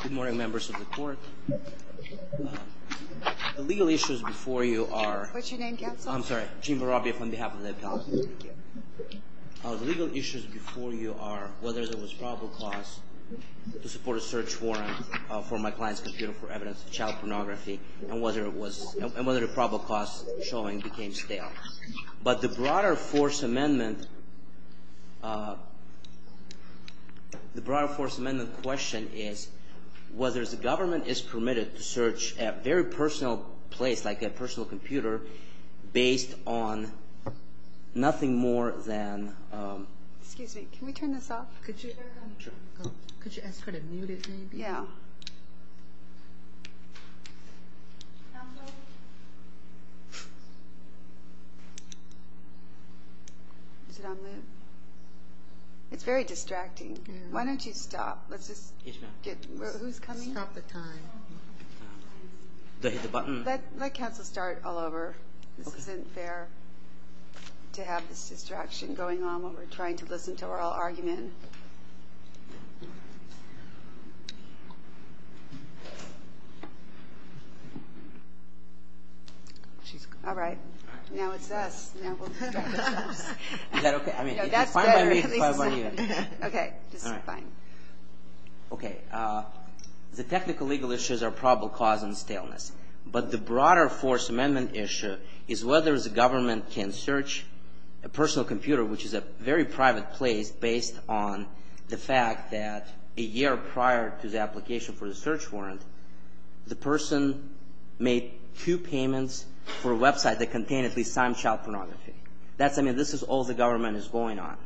Good morning members of the court. The legal issues before you are. What's your name counsel? I'm sorry, Gene Varabia from behalf of the FBI. The legal issues before you are whether there was probable cause to support a search warrant for my client's computer for evidence of child pornography and whether it was, and whether the probable cause showing became stale. But the broader force amendment, the broader force amendment question is whether the government is permitted to search a very personal place like a personal computer based on nothing more than. Excuse me, can we turn this off? Could you ask her to mute it maybe? Yeah. Is it on mute? It's very distracting. Why don't you stop? Who's coming? Stop the time. Did I hit the button? Let counsel start all over. This isn't fair to have this distraction going on while we're trying to listen to oral argument. All right, now it's us. Is that okay? Okay, just fine. Okay, the technical legal issues are probable cause and staleness, but the broader force amendment issue is whether the government can search a personal computer which is a very private place based on. The fact that a year prior to the application for the search warrant, the person made two payments for a website that contained at least some child pornography. That's, I mean, this is all the government is going on.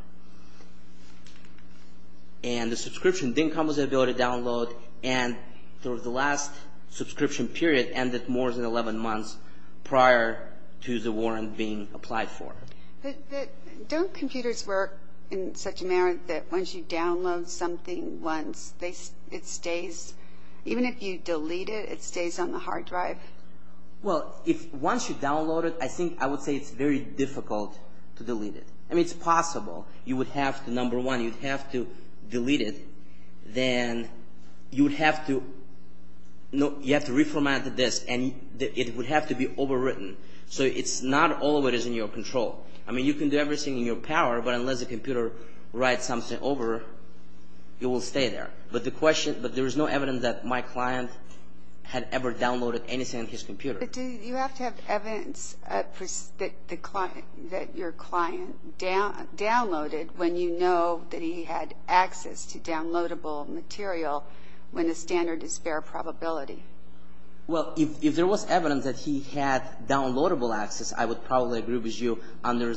And the subscription didn't come with the ability to download, and the last subscription period ended more than 11 months prior to the warrant being applied for. Don't computers work in such a manner that once you download something once, it stays, even if you delete it, it stays on the hard drive? Well, once you download it, I think I would say it's very difficult to delete it. I mean, it's possible. You would have to, number one, you'd have to delete it, then you would have to reformat the disk, and it would have to be overwritten. So it's not always in your control. I mean, you can do everything in your power, but unless the computer writes something over, it will stay there. But there is no evidence that my client had ever downloaded anything on his computer. But do you have to have evidence that your client downloaded when you know that he had access to downloadable material when the standard is fair probability? Well, if there was evidence that he had downloadable access, I would probably agree with you under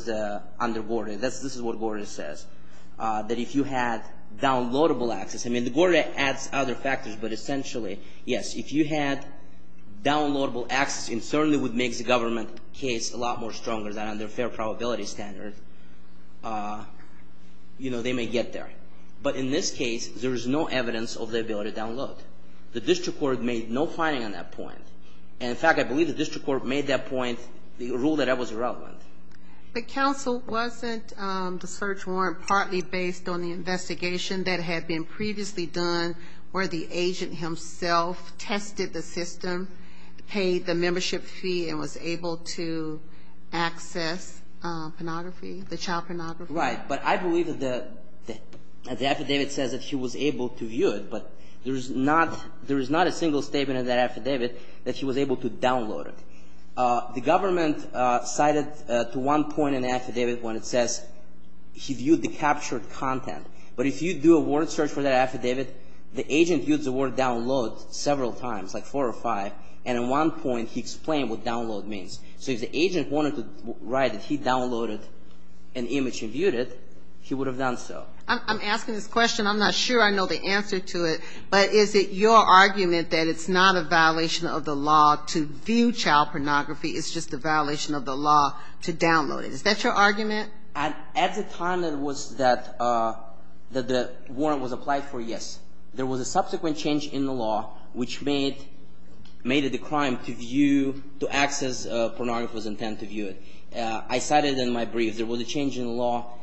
Gordy. This is what Gordy says, that if you had downloadable access. I mean, Gordy adds other factors, but essentially, yes, if you had downloadable access, it certainly would make the government case a lot more stronger than under fair probability standard. You know, they may get there. But in this case, there is no evidence of the ability to download. The district court made no finding on that point. And in fact, I believe the district court made that point, the rule that I was around with. But counsel, wasn't the search warrant partly based on the investigation that had been previously done where the agent himself tested the system, paid the membership fee and was able to access pornography, the child pornography? Right. But I believe that the affidavit says that he was able to view it, but there is not a single statement in that affidavit that he was able to download it. The government cited to one point in the affidavit when it says he viewed the captured content. But if you do a word search for that affidavit, the agent used the word download several times, like four or five, and at one point he explained what download means. So if the agent wanted to write that he downloaded an image and viewed it, he would have done so. I'm asking this question. I'm not sure I know the answer to it. But is it your argument that it's not a violation of the law to view child pornography, it's just a violation of the law to download it? Is that your argument? At the time that the warrant was applied for, yes. There was a subsequent change in the law which made it a crime to view, to access pornography was intended to view it. I cited in my brief there was a change in the law,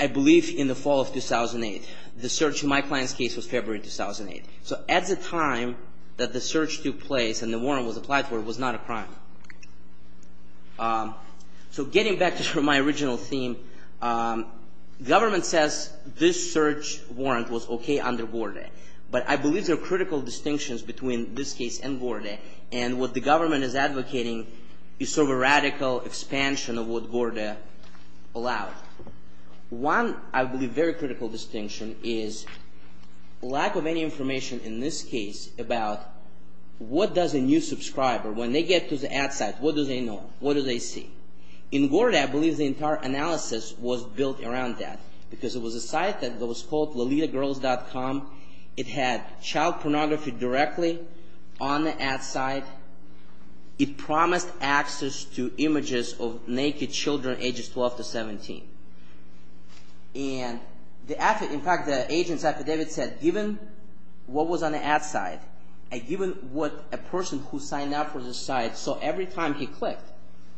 I believe in the fall of 2008. The search in my client's case was February 2008. So at the time that the search took place and the warrant was applied for, it was not a crime. So getting back to my original theme, government says this search warrant was okay under GORDA. But I believe there are critical distinctions between this case and GORDA. And what the government is advocating is sort of a radical expansion of what GORDA allowed. One, I believe, very critical distinction is lack of any information in this case about what does a new subscriber, when they get to the ad site, what do they know? What do they see? In GORDA, I believe the entire analysis was built around that because it was a site that was called lolitagirls.com. It had child pornography directly on the ad site. It promised access to images of naked children ages 12 to 17. In fact, the agent's affidavit said given what was on the ad site and given what a person who signed up for this site saw every time he clicked,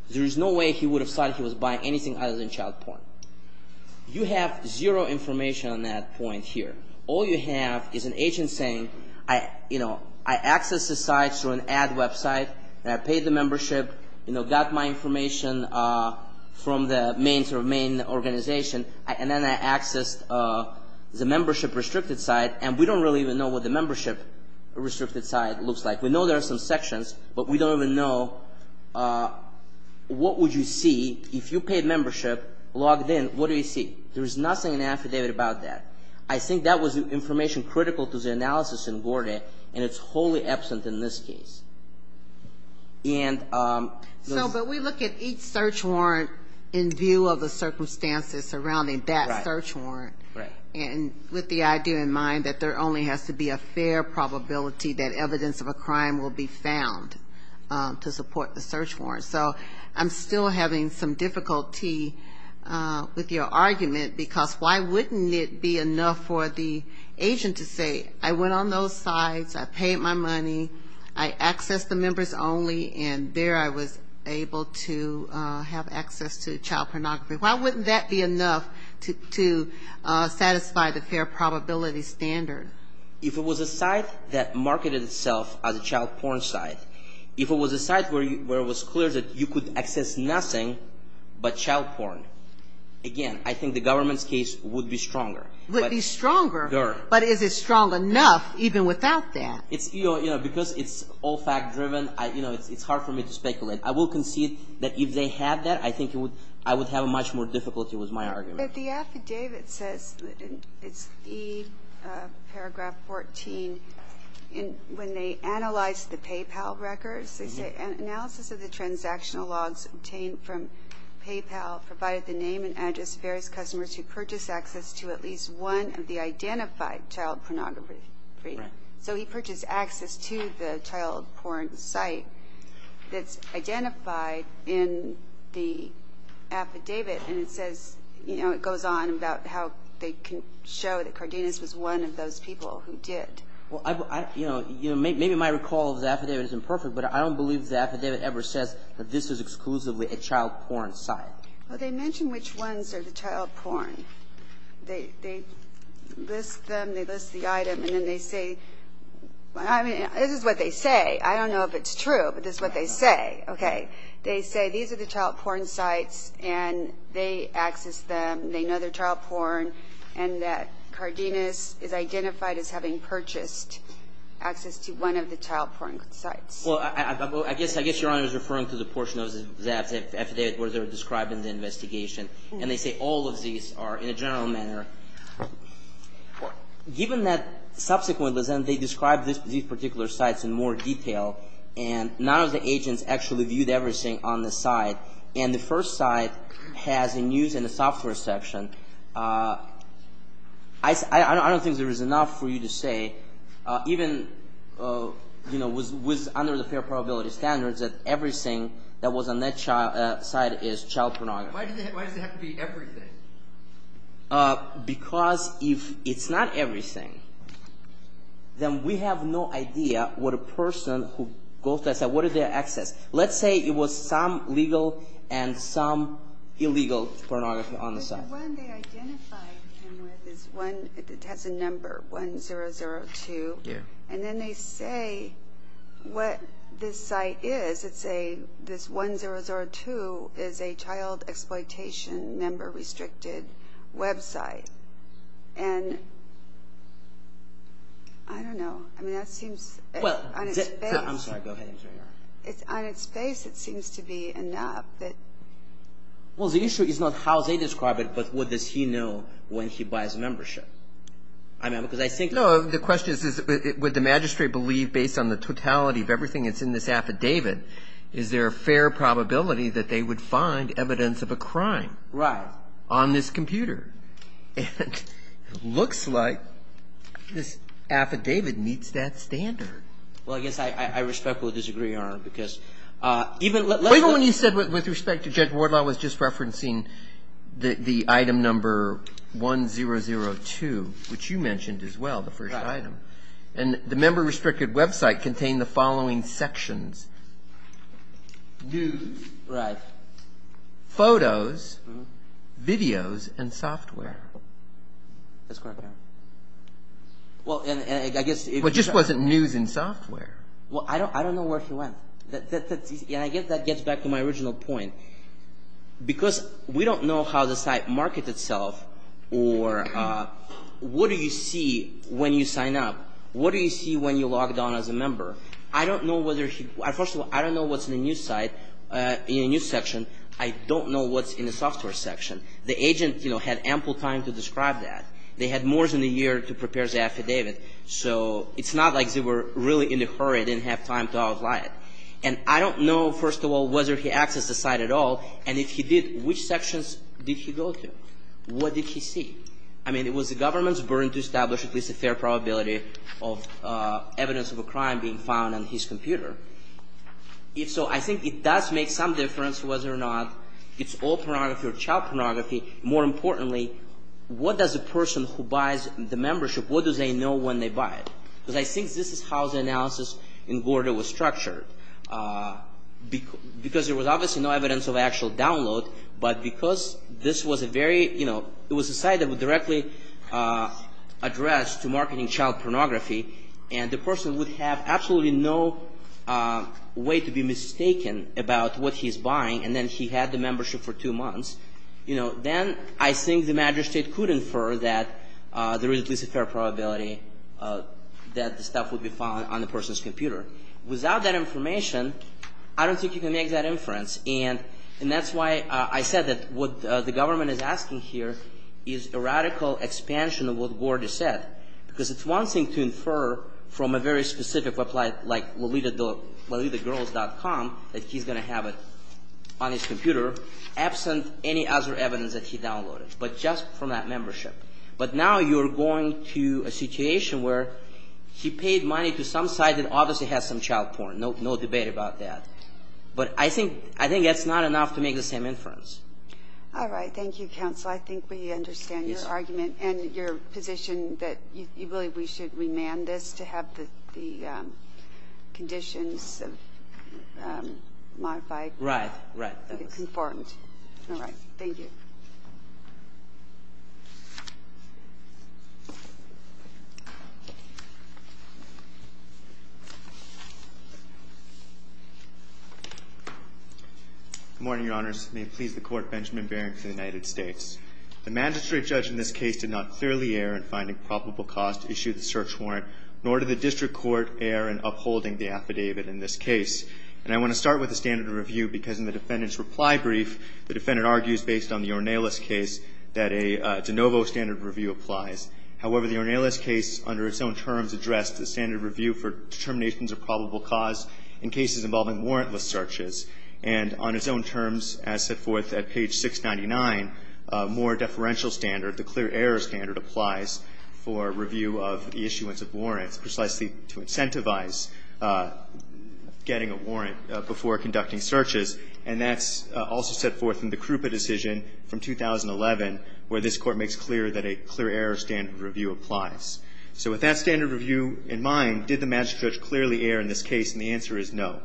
there is no way he would have thought he was buying anything other than child porn. You have zero information on that point here. All you have is an agent saying I accessed the site through an ad website and I paid the membership, got my information from the main organization, and then I accessed the membership-restricted site, and we don't really even know what the membership-restricted site looks like. We know there are some sections, but we don't even know what would you see if you paid membership, logged in, what do you see? There is nothing in the affidavit about that. I think that was information critical to the analysis in GORDA, and it's wholly absent in this case. And those- But we look at each search warrant in view of the circumstances surrounding that search warrant. Right. And with the idea in mind that there only has to be a fair probability that evidence of a crime will be found to support the search warrant. So I'm still having some difficulty with your argument, because why wouldn't it be enough for the agent to say I went on those sites, I paid my money, I accessed the members only, and there I was able to have access to child pornography. Why wouldn't that be enough to satisfy the fair probability standard? If it was a site that marketed itself as a child porn site, if it was a site where it was clear that you could access nothing but child porn, again, I think the government's case would be stronger. It would be stronger, but is it strong enough even without that? Because it's all fact-driven, it's hard for me to speculate. I will concede that if they had that, I think I would have much more difficulty with my argument. But the affidavit says, it's E paragraph 14, when they analyzed the PayPal records, they say analysis of the transactional logs obtained from PayPal provided the name and address of various customers who purchased access to at least one of the identified child pornography. Right. So he purchased access to the child porn site that's identified in the affidavit, and it says, you know, it goes on about how they can show that Cardenas was one of those people who did. Well, you know, maybe my recall of the affidavit is imperfect, but I don't believe the affidavit ever says that this is exclusively a child porn site. Well, they mention which ones are the child porn. They list them, they list the item, and then they say, I mean, this is what they say. I don't know if it's true, but this is what they say. Okay. They say these are the child porn sites, and they accessed them, they know they're child porn, and that Cardenas is identified as having purchased access to one of the child porn sites. Well, I guess Your Honor is referring to the portion of the affidavit where they're describing the investigation, and they say all of these are in a general manner. Given that subsequently they described these particular sites in more detail, and none of the agents actually viewed everything on the site, and the first site has a news and a software section, I don't think there is enough for you to say, even with under the fair probability standards, that everything that was on that site is child pornography. Why does it have to be everything? Because if it's not everything, then we have no idea what a person who goes to that site, what is their access. Let's say it was some legal and some illegal pornography on the site. The one they identified him with has a number, 1002, and then they say what this site is. They say this 1002 is a child exploitation member restricted website, and I don't know. I'm sorry, go ahead. On its face it seems to be enough. Well, the issue is not how they describe it, but what does he know when he buys a membership. The question is, would the magistrate believe based on the totality of everything that's in this affidavit, is there a fair probability that they would find evidence of a crime on this computer? It looks like this affidavit meets that standard. Wait a minute, you said with respect to Judge Wardlaw was just referencing the item number 1002, which you mentioned as well, the first item. And the member restricted website contained the following sections. News, photos, videos, and software. It just wasn't news and software. Well, I don't know where he went. That gets back to my original point. Because we don't know how the site markets itself or what do you see when you sign up. What do you see when you log down as a member? First of all, I don't know what's in the news section. I don't know what's in the software section. The agent had ample time to describe that. They had more than a year to prepare the affidavit. So it's not like they were really in a hurry and didn't have time to outline it. And I don't know, first of all, whether he accessed the site at all. And if he did, which sections did he go to? What did he see? I mean, it was the government's burden to establish at least a fair probability of evidence of a crime being found on his computer. If so, I think it does make some difference whether or not it's all pornography or child pornography. More importantly, what does a person who buys the membership, what do they know when they buy it? Because I think this is how the analysis in Gorda was structured. Because there was obviously no evidence of actual download, but because this was a very, you know, it was a site that would directly address to marketing child pornography, and the person would have absolutely no way to be mistaken about what he's buying, and then he had the membership for two months, you know, then I think the magistrate could infer that there is at least a fair probability that the stuff would be found on the person's computer. Without that information, I don't think you can make that inference. And that's why I said that what the government is asking here is a radical expansion of what Gorda said, because it's one thing to infer from a very specific website like lolitagirls.com that he's going to have it on his computer. Absent any other evidence that he downloaded. But just from that membership. But now you're going to a situation where he paid money to some site that obviously has some child porn. No debate about that. But I think that's not enough to make the same inference. All right. Thank you, counsel. I think we understand your argument and your position that you believe we should remand this to have the conditions of modified conformity. All right. Thank you. Good morning, Your Honors. May it please the Court, Benjamin Baring for the United States. The magistrate judge in this case did not clearly err in finding probable cause to issue the search warrant, nor did the district court err in upholding the affidavit in this case. And I want to start with the standard of review because in the defendant's reply brief, the defendant argues based on the Ornelas case that a de novo standard of review applies. However, the Ornelas case under its own terms addressed the standard of review for determinations of probable cause in cases involving warrantless searches. And on its own terms, as set forth at page 699, more deferential standard, the clear error standard, applies for review of the issuance of warrants, precisely to incentivize getting a warrant before conducting searches. And that's also set forth in the Krupa decision from 2011, where this Court makes clear that a clear error standard of review applies. So with that standard of review in mind, did the magistrate judge clearly err in this case? And the answer is no.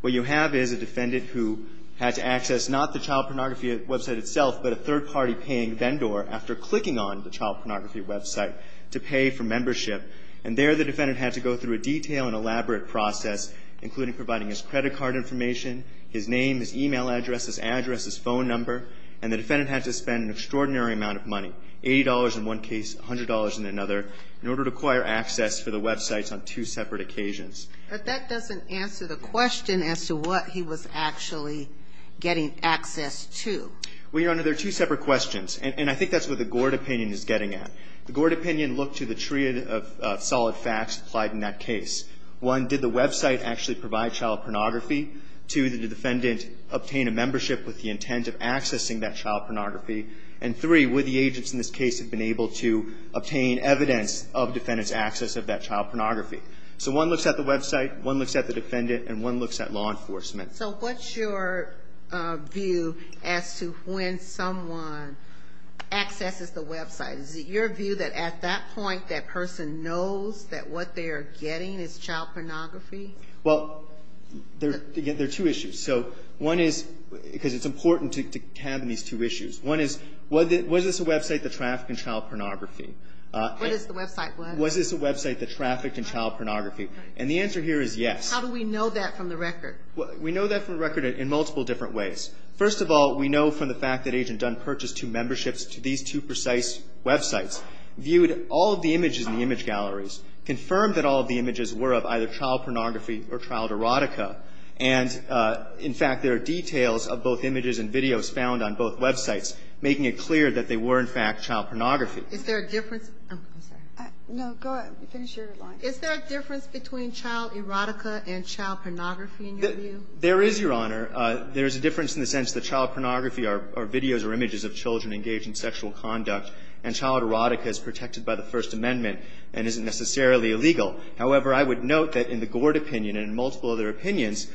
What you have is a defendant who had to access not the child pornography website itself, but a third-party paying vendor after clicking on the child pornography website to pay for membership. And there the defendant had to go through a detailed and elaborate process, including providing his credit card information, his name, his e-mail address, his address, his phone number. And the defendant had to spend an extraordinary amount of money, $80 in one case, $100 in another, in order to acquire access for the websites on two separate occasions. But that doesn't answer the question as to what he was actually getting access to. Well, Your Honor, there are two separate questions. And I think that's what the Gord opinion is getting at. The Gord opinion looked to the tree of solid facts applied in that case. One, did the website actually provide child pornography? Two, did the defendant obtain a membership with the intent of accessing that child pornography? And three, would the agents in this case have been able to obtain evidence of defendant's access of that child pornography? So one looks at the website, one looks at the defendant, and one looks at law enforcement. So what's your view as to when someone accesses the website? Is it your view that at that point that person knows that what they are getting is child pornography? Well, there are two issues. So one is because it's important to have these two issues. One is was this a website that trafficked in child pornography? What is the website? Was this a website that trafficked in child pornography? And the answer here is yes. How do we know that from the record? We know that from the record in multiple different ways. First of all, we know from the fact that Agent Dunn purchased two memberships to these two precise websites, viewed all of the images in the image galleries, confirmed that all of the images were of either child pornography or child erotica. And, in fact, there are details of both images and videos found on both websites, making it clear that they were, in fact, child pornography. Is there a difference? I'm sorry. No, go ahead. Finish your line. Is there a difference between child erotica and child pornography, in your view? There is, Your Honor. There is a difference in the sense that child pornography are videos or images of children engaged in sexual conduct, and child erotica is protected by the First Amendment and isn't necessarily illegal. However, I would note that in the Gord opinion and in multiple other opinions,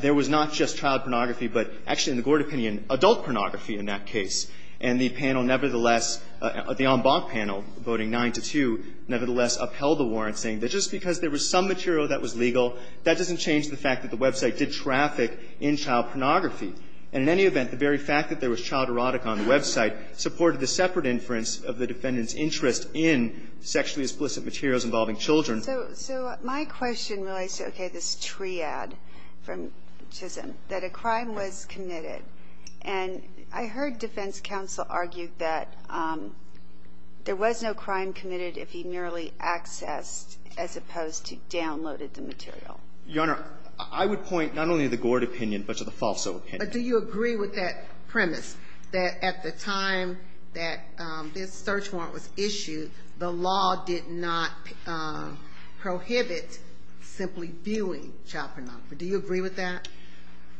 there was not just child pornography, but actually, in the Gord opinion, adult pornography in that case. And the panel nevertheless, the en banc panel, voting 9-2, nevertheless upheld the warrant, saying that just because there was some material that was legal, that doesn't change the fact that the website did traffic in child pornography. And in any event, the very fact that there was child erotica on the website supported the separate inference of the defendant's interest in sexually explicit materials involving children. So my question relates to, okay, this triad from Chisholm, that a crime was committed. And I heard defense counsel argue that there was no crime committed if he merely accessed as opposed to downloaded the material. Your Honor, I would point not only to the Gord opinion, but to the Falso opinion. But do you agree with that premise, that at the time that this search warrant was issued, the law did not prohibit simply viewing child pornography? Do you agree with that?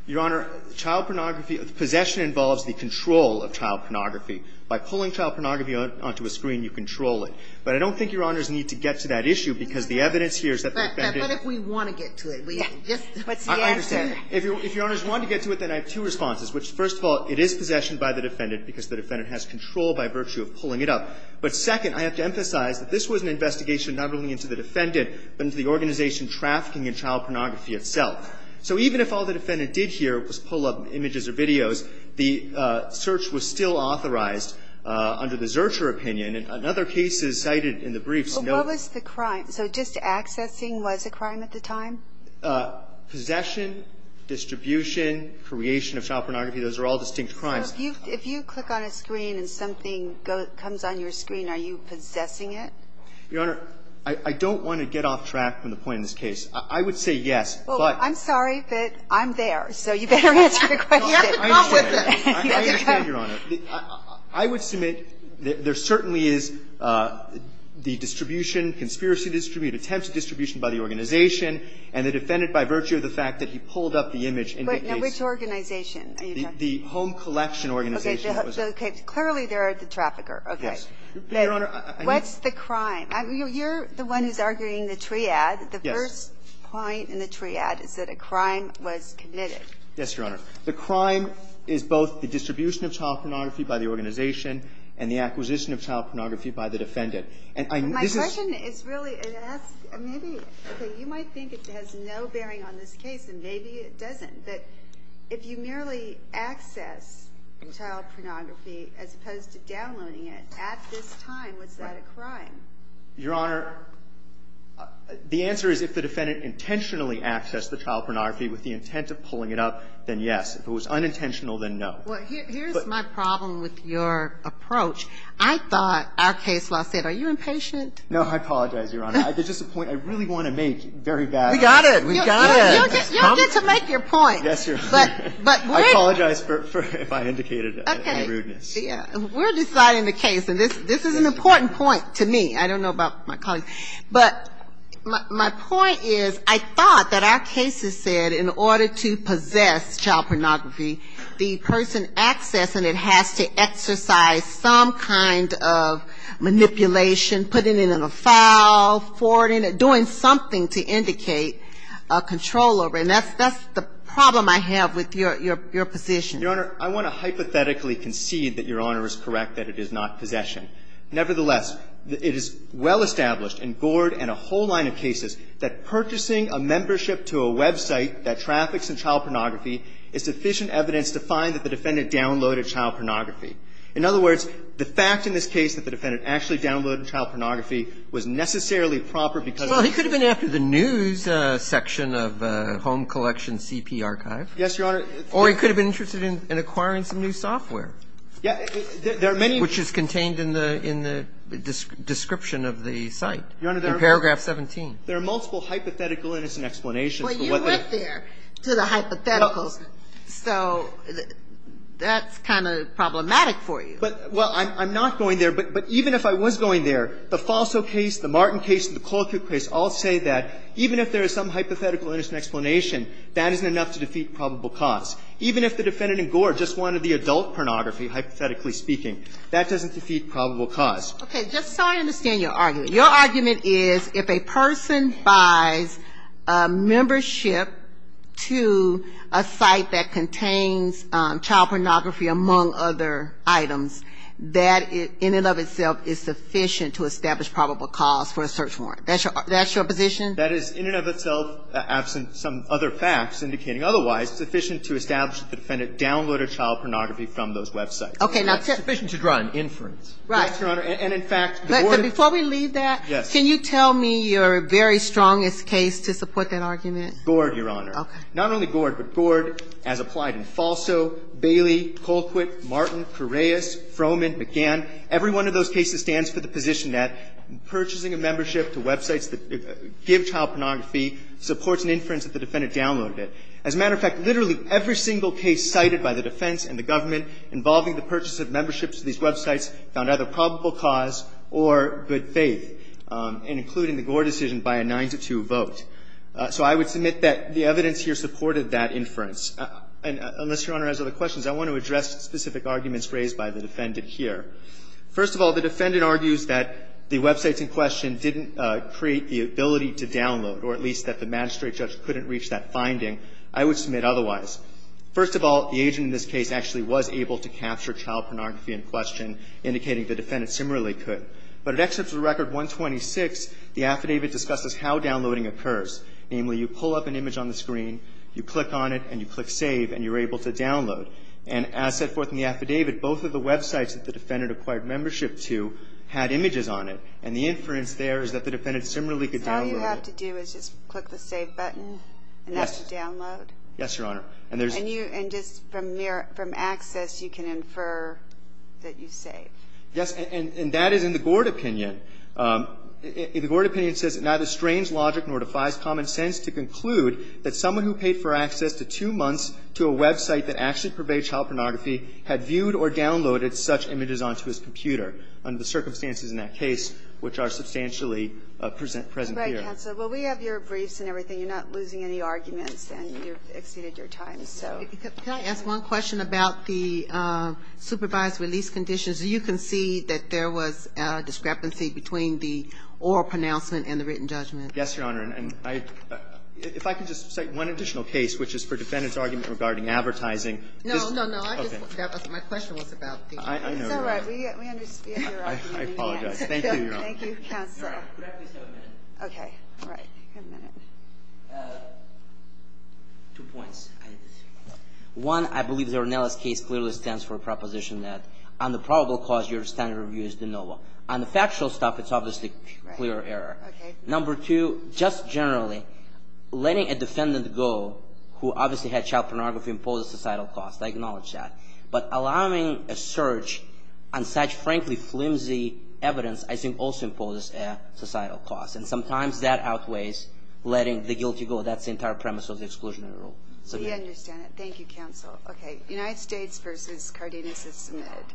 Your Honor, child pornography, possession involves the control of child pornography. By pulling child pornography onto a screen, you control it. But I don't think Your Honors need to get to that issue, because the evidence here is that the defendant – But what if we want to get to it? What's the answer? I understand. If Your Honors want to get to it, then I have two responses, which, first of all, it is possession by the defendant because the defendant has control by virtue of pulling it up. But second, I have to emphasize that this was an investigation not only into the defendant, but into the organization trafficking in child pornography itself. So even if all the defendant did here was pull up images or videos, the search was still authorized under the Zurcher opinion. And another case is cited in the briefs. What was the crime? So just accessing was a crime at the time? Possession, distribution, creation of child pornography, those are all distinct crimes. So if you click on a screen and something comes on your screen, are you possessing it? Your Honor, I don't want to get off track from the point of this case. I would say yes, but – Well, I'm sorry, but I'm there. So you better answer the question. You have to come with us. I understand, Your Honor. I would submit there certainly is the distribution, conspiracy distribution, attempts at distribution by the organization, and the defendant, by virtue of the fact that he pulled up the image indicates – But now which organization are you talking about? The home collection organization. Okay. Clearly, they're the trafficker. Okay. Yes. Your Honor, I mean – What's the crime? You're the one who's arguing the triad. Yes. The first point in the triad is that a crime was committed. Yes, Your Honor. The crime is both the distribution of child pornography by the organization and the acquisition of child pornography by the defendant. And I – My question is really to ask maybe – okay. You might think it has no bearing on this case, and maybe it doesn't. But if you merely access child pornography as opposed to downloading it, at this time, was that a crime? Your Honor, the answer is if the defendant intentionally accessed the child pornography with the intent of pulling it up, then yes. If it was unintentional, then no. Well, here's my problem with your approach. I thought our case law said – are you impatient? No. I apologize, Your Honor. There's just a point I really want to make very badly. We got it. We got it. You don't get to make your point. Yes, Your Honor. But we're – I apologize if I indicated any rudeness. Okay. We're deciding the case, and this is an important point to me. I don't know about my colleagues. But my point is I thought that our case has said in order to possess child pornography, the person accessing it has to exercise some kind of manipulation, putting it in a file, forwarding it, doing something to indicate a control over it. And that's the problem I have with your position. Your Honor, I want to hypothetically concede that Your Honor is correct that it is not possession. Nevertheless, it is well-established in Gord and a whole line of cases that purchasing a membership to a website that traffics in child pornography is sufficient evidence to find that the defendant downloaded child pornography. In other words, the fact in this case that the defendant actually downloaded child pornography was necessarily proper because of the – Well, he could have been after the news section of Home Collection CP archive. Yes, Your Honor. Or he could have been interested in acquiring some new software. Yeah. There are many – Which is contained in the description of the site. Your Honor, there are – In paragraph 17. There are multiple hypothetical, innocent explanations for what the – Well, you went there to the hypotheticals. So that's kind of problematic for you. Well, I'm not going there. But even if I was going there, the Falso case, the Martin case, and the Colquitt case all say that even if there is some hypothetical, innocent explanation, that isn't enough to defeat probable cause. Even if the defendant in Gore just wanted the adult pornography, hypothetically speaking, that doesn't defeat probable cause. Okay. Just so I understand your argument. Your argument is if a person buys a membership to a site that contains child pornography, among other items, that in and of itself is sufficient to establish probable cause for a search warrant. That's your position? That is in and of itself, absent some other facts indicating otherwise, sufficient to establish that the defendant downloaded child pornography from those websites. Okay. Now – It's sufficient to draw an inference. Right. Yes, Your Honor. And in fact, the board – But before we leave that, can you tell me your very strongest case to support that argument? Gord, Your Honor. Okay. Not only Gord, but Gord as applied in Falso, Bailey, Colquitt, Martin, Correias, Froman, McGann. Every one of those cases stands for the position that purchasing a membership to websites that give child pornography supports an inference that the defendant downloaded it. As a matter of fact, literally every single case cited by the defense and the government involving the purchase of memberships to these websites found either probable cause or good faith, and including the Gord decision by a 9-2 vote. So I would submit that the evidence here supported that inference. And unless Your Honor has other questions, I want to address specific arguments raised by the defendant here. First of all, the defendant argues that the websites in question didn't create the ability to download, or at least that the magistrate judge couldn't reach that finding. I would submit otherwise. First of all, the agent in this case actually was able to capture child pornography in question, indicating the defendant similarly could. But at Excerpt of Record 126, the affidavit discusses how downloading occurs. Namely, you pull up an image on the screen, you click on it, and you click save, and you're able to download. And as set forth in the affidavit, both of the websites that the defendant acquired membership to had images on it. And the inference there is that the defendant similarly could download it. All you have to do is just click the save button, and that's to download? Yes, Your Honor. And just from access, you can infer that you saved. Yes. And that is in the Gord opinion. The Gord opinion says it neither strains logic nor defies common sense to conclude that someone who paid for access to two months to a website that actually purveyed child pornography had viewed or downloaded such images onto his computer under the circumstances in that case, which are substantially present here. Right, counsel. Well, we have your briefs and everything. You're not losing any arguments, and you've exceeded your time, so. Can I ask one question about the supervised release conditions? You concede that there was a discrepancy between the oral pronouncement and the written judgment. Yes, Your Honor. And if I could just cite one additional case, which is for defendant's argument regarding advertising. No, no, no. My question was about the. I know. It's all right. We understand your argument. I apologize. Thank you, Your Honor. Thank you, counsel. Could I please have a minute? Okay. All right. You have a minute. Two points. One, I believe the Ronellis case clearly stands for a proposition that on the probable cause, your standard review is de novo. On the factual stuff, it's obviously clear error. Okay. Number two, just generally, letting a defendant go who obviously had child pornography impose a societal cost, I acknowledge that. But allowing a search on such, frankly, flimsy evidence, I think, also imposes a societal cost. And sometimes that outweighs letting the guilty go. That's the entire premise of the exclusionary rule. We understand it. Thank you, counsel. Okay. United States v. Cardenas is submitted.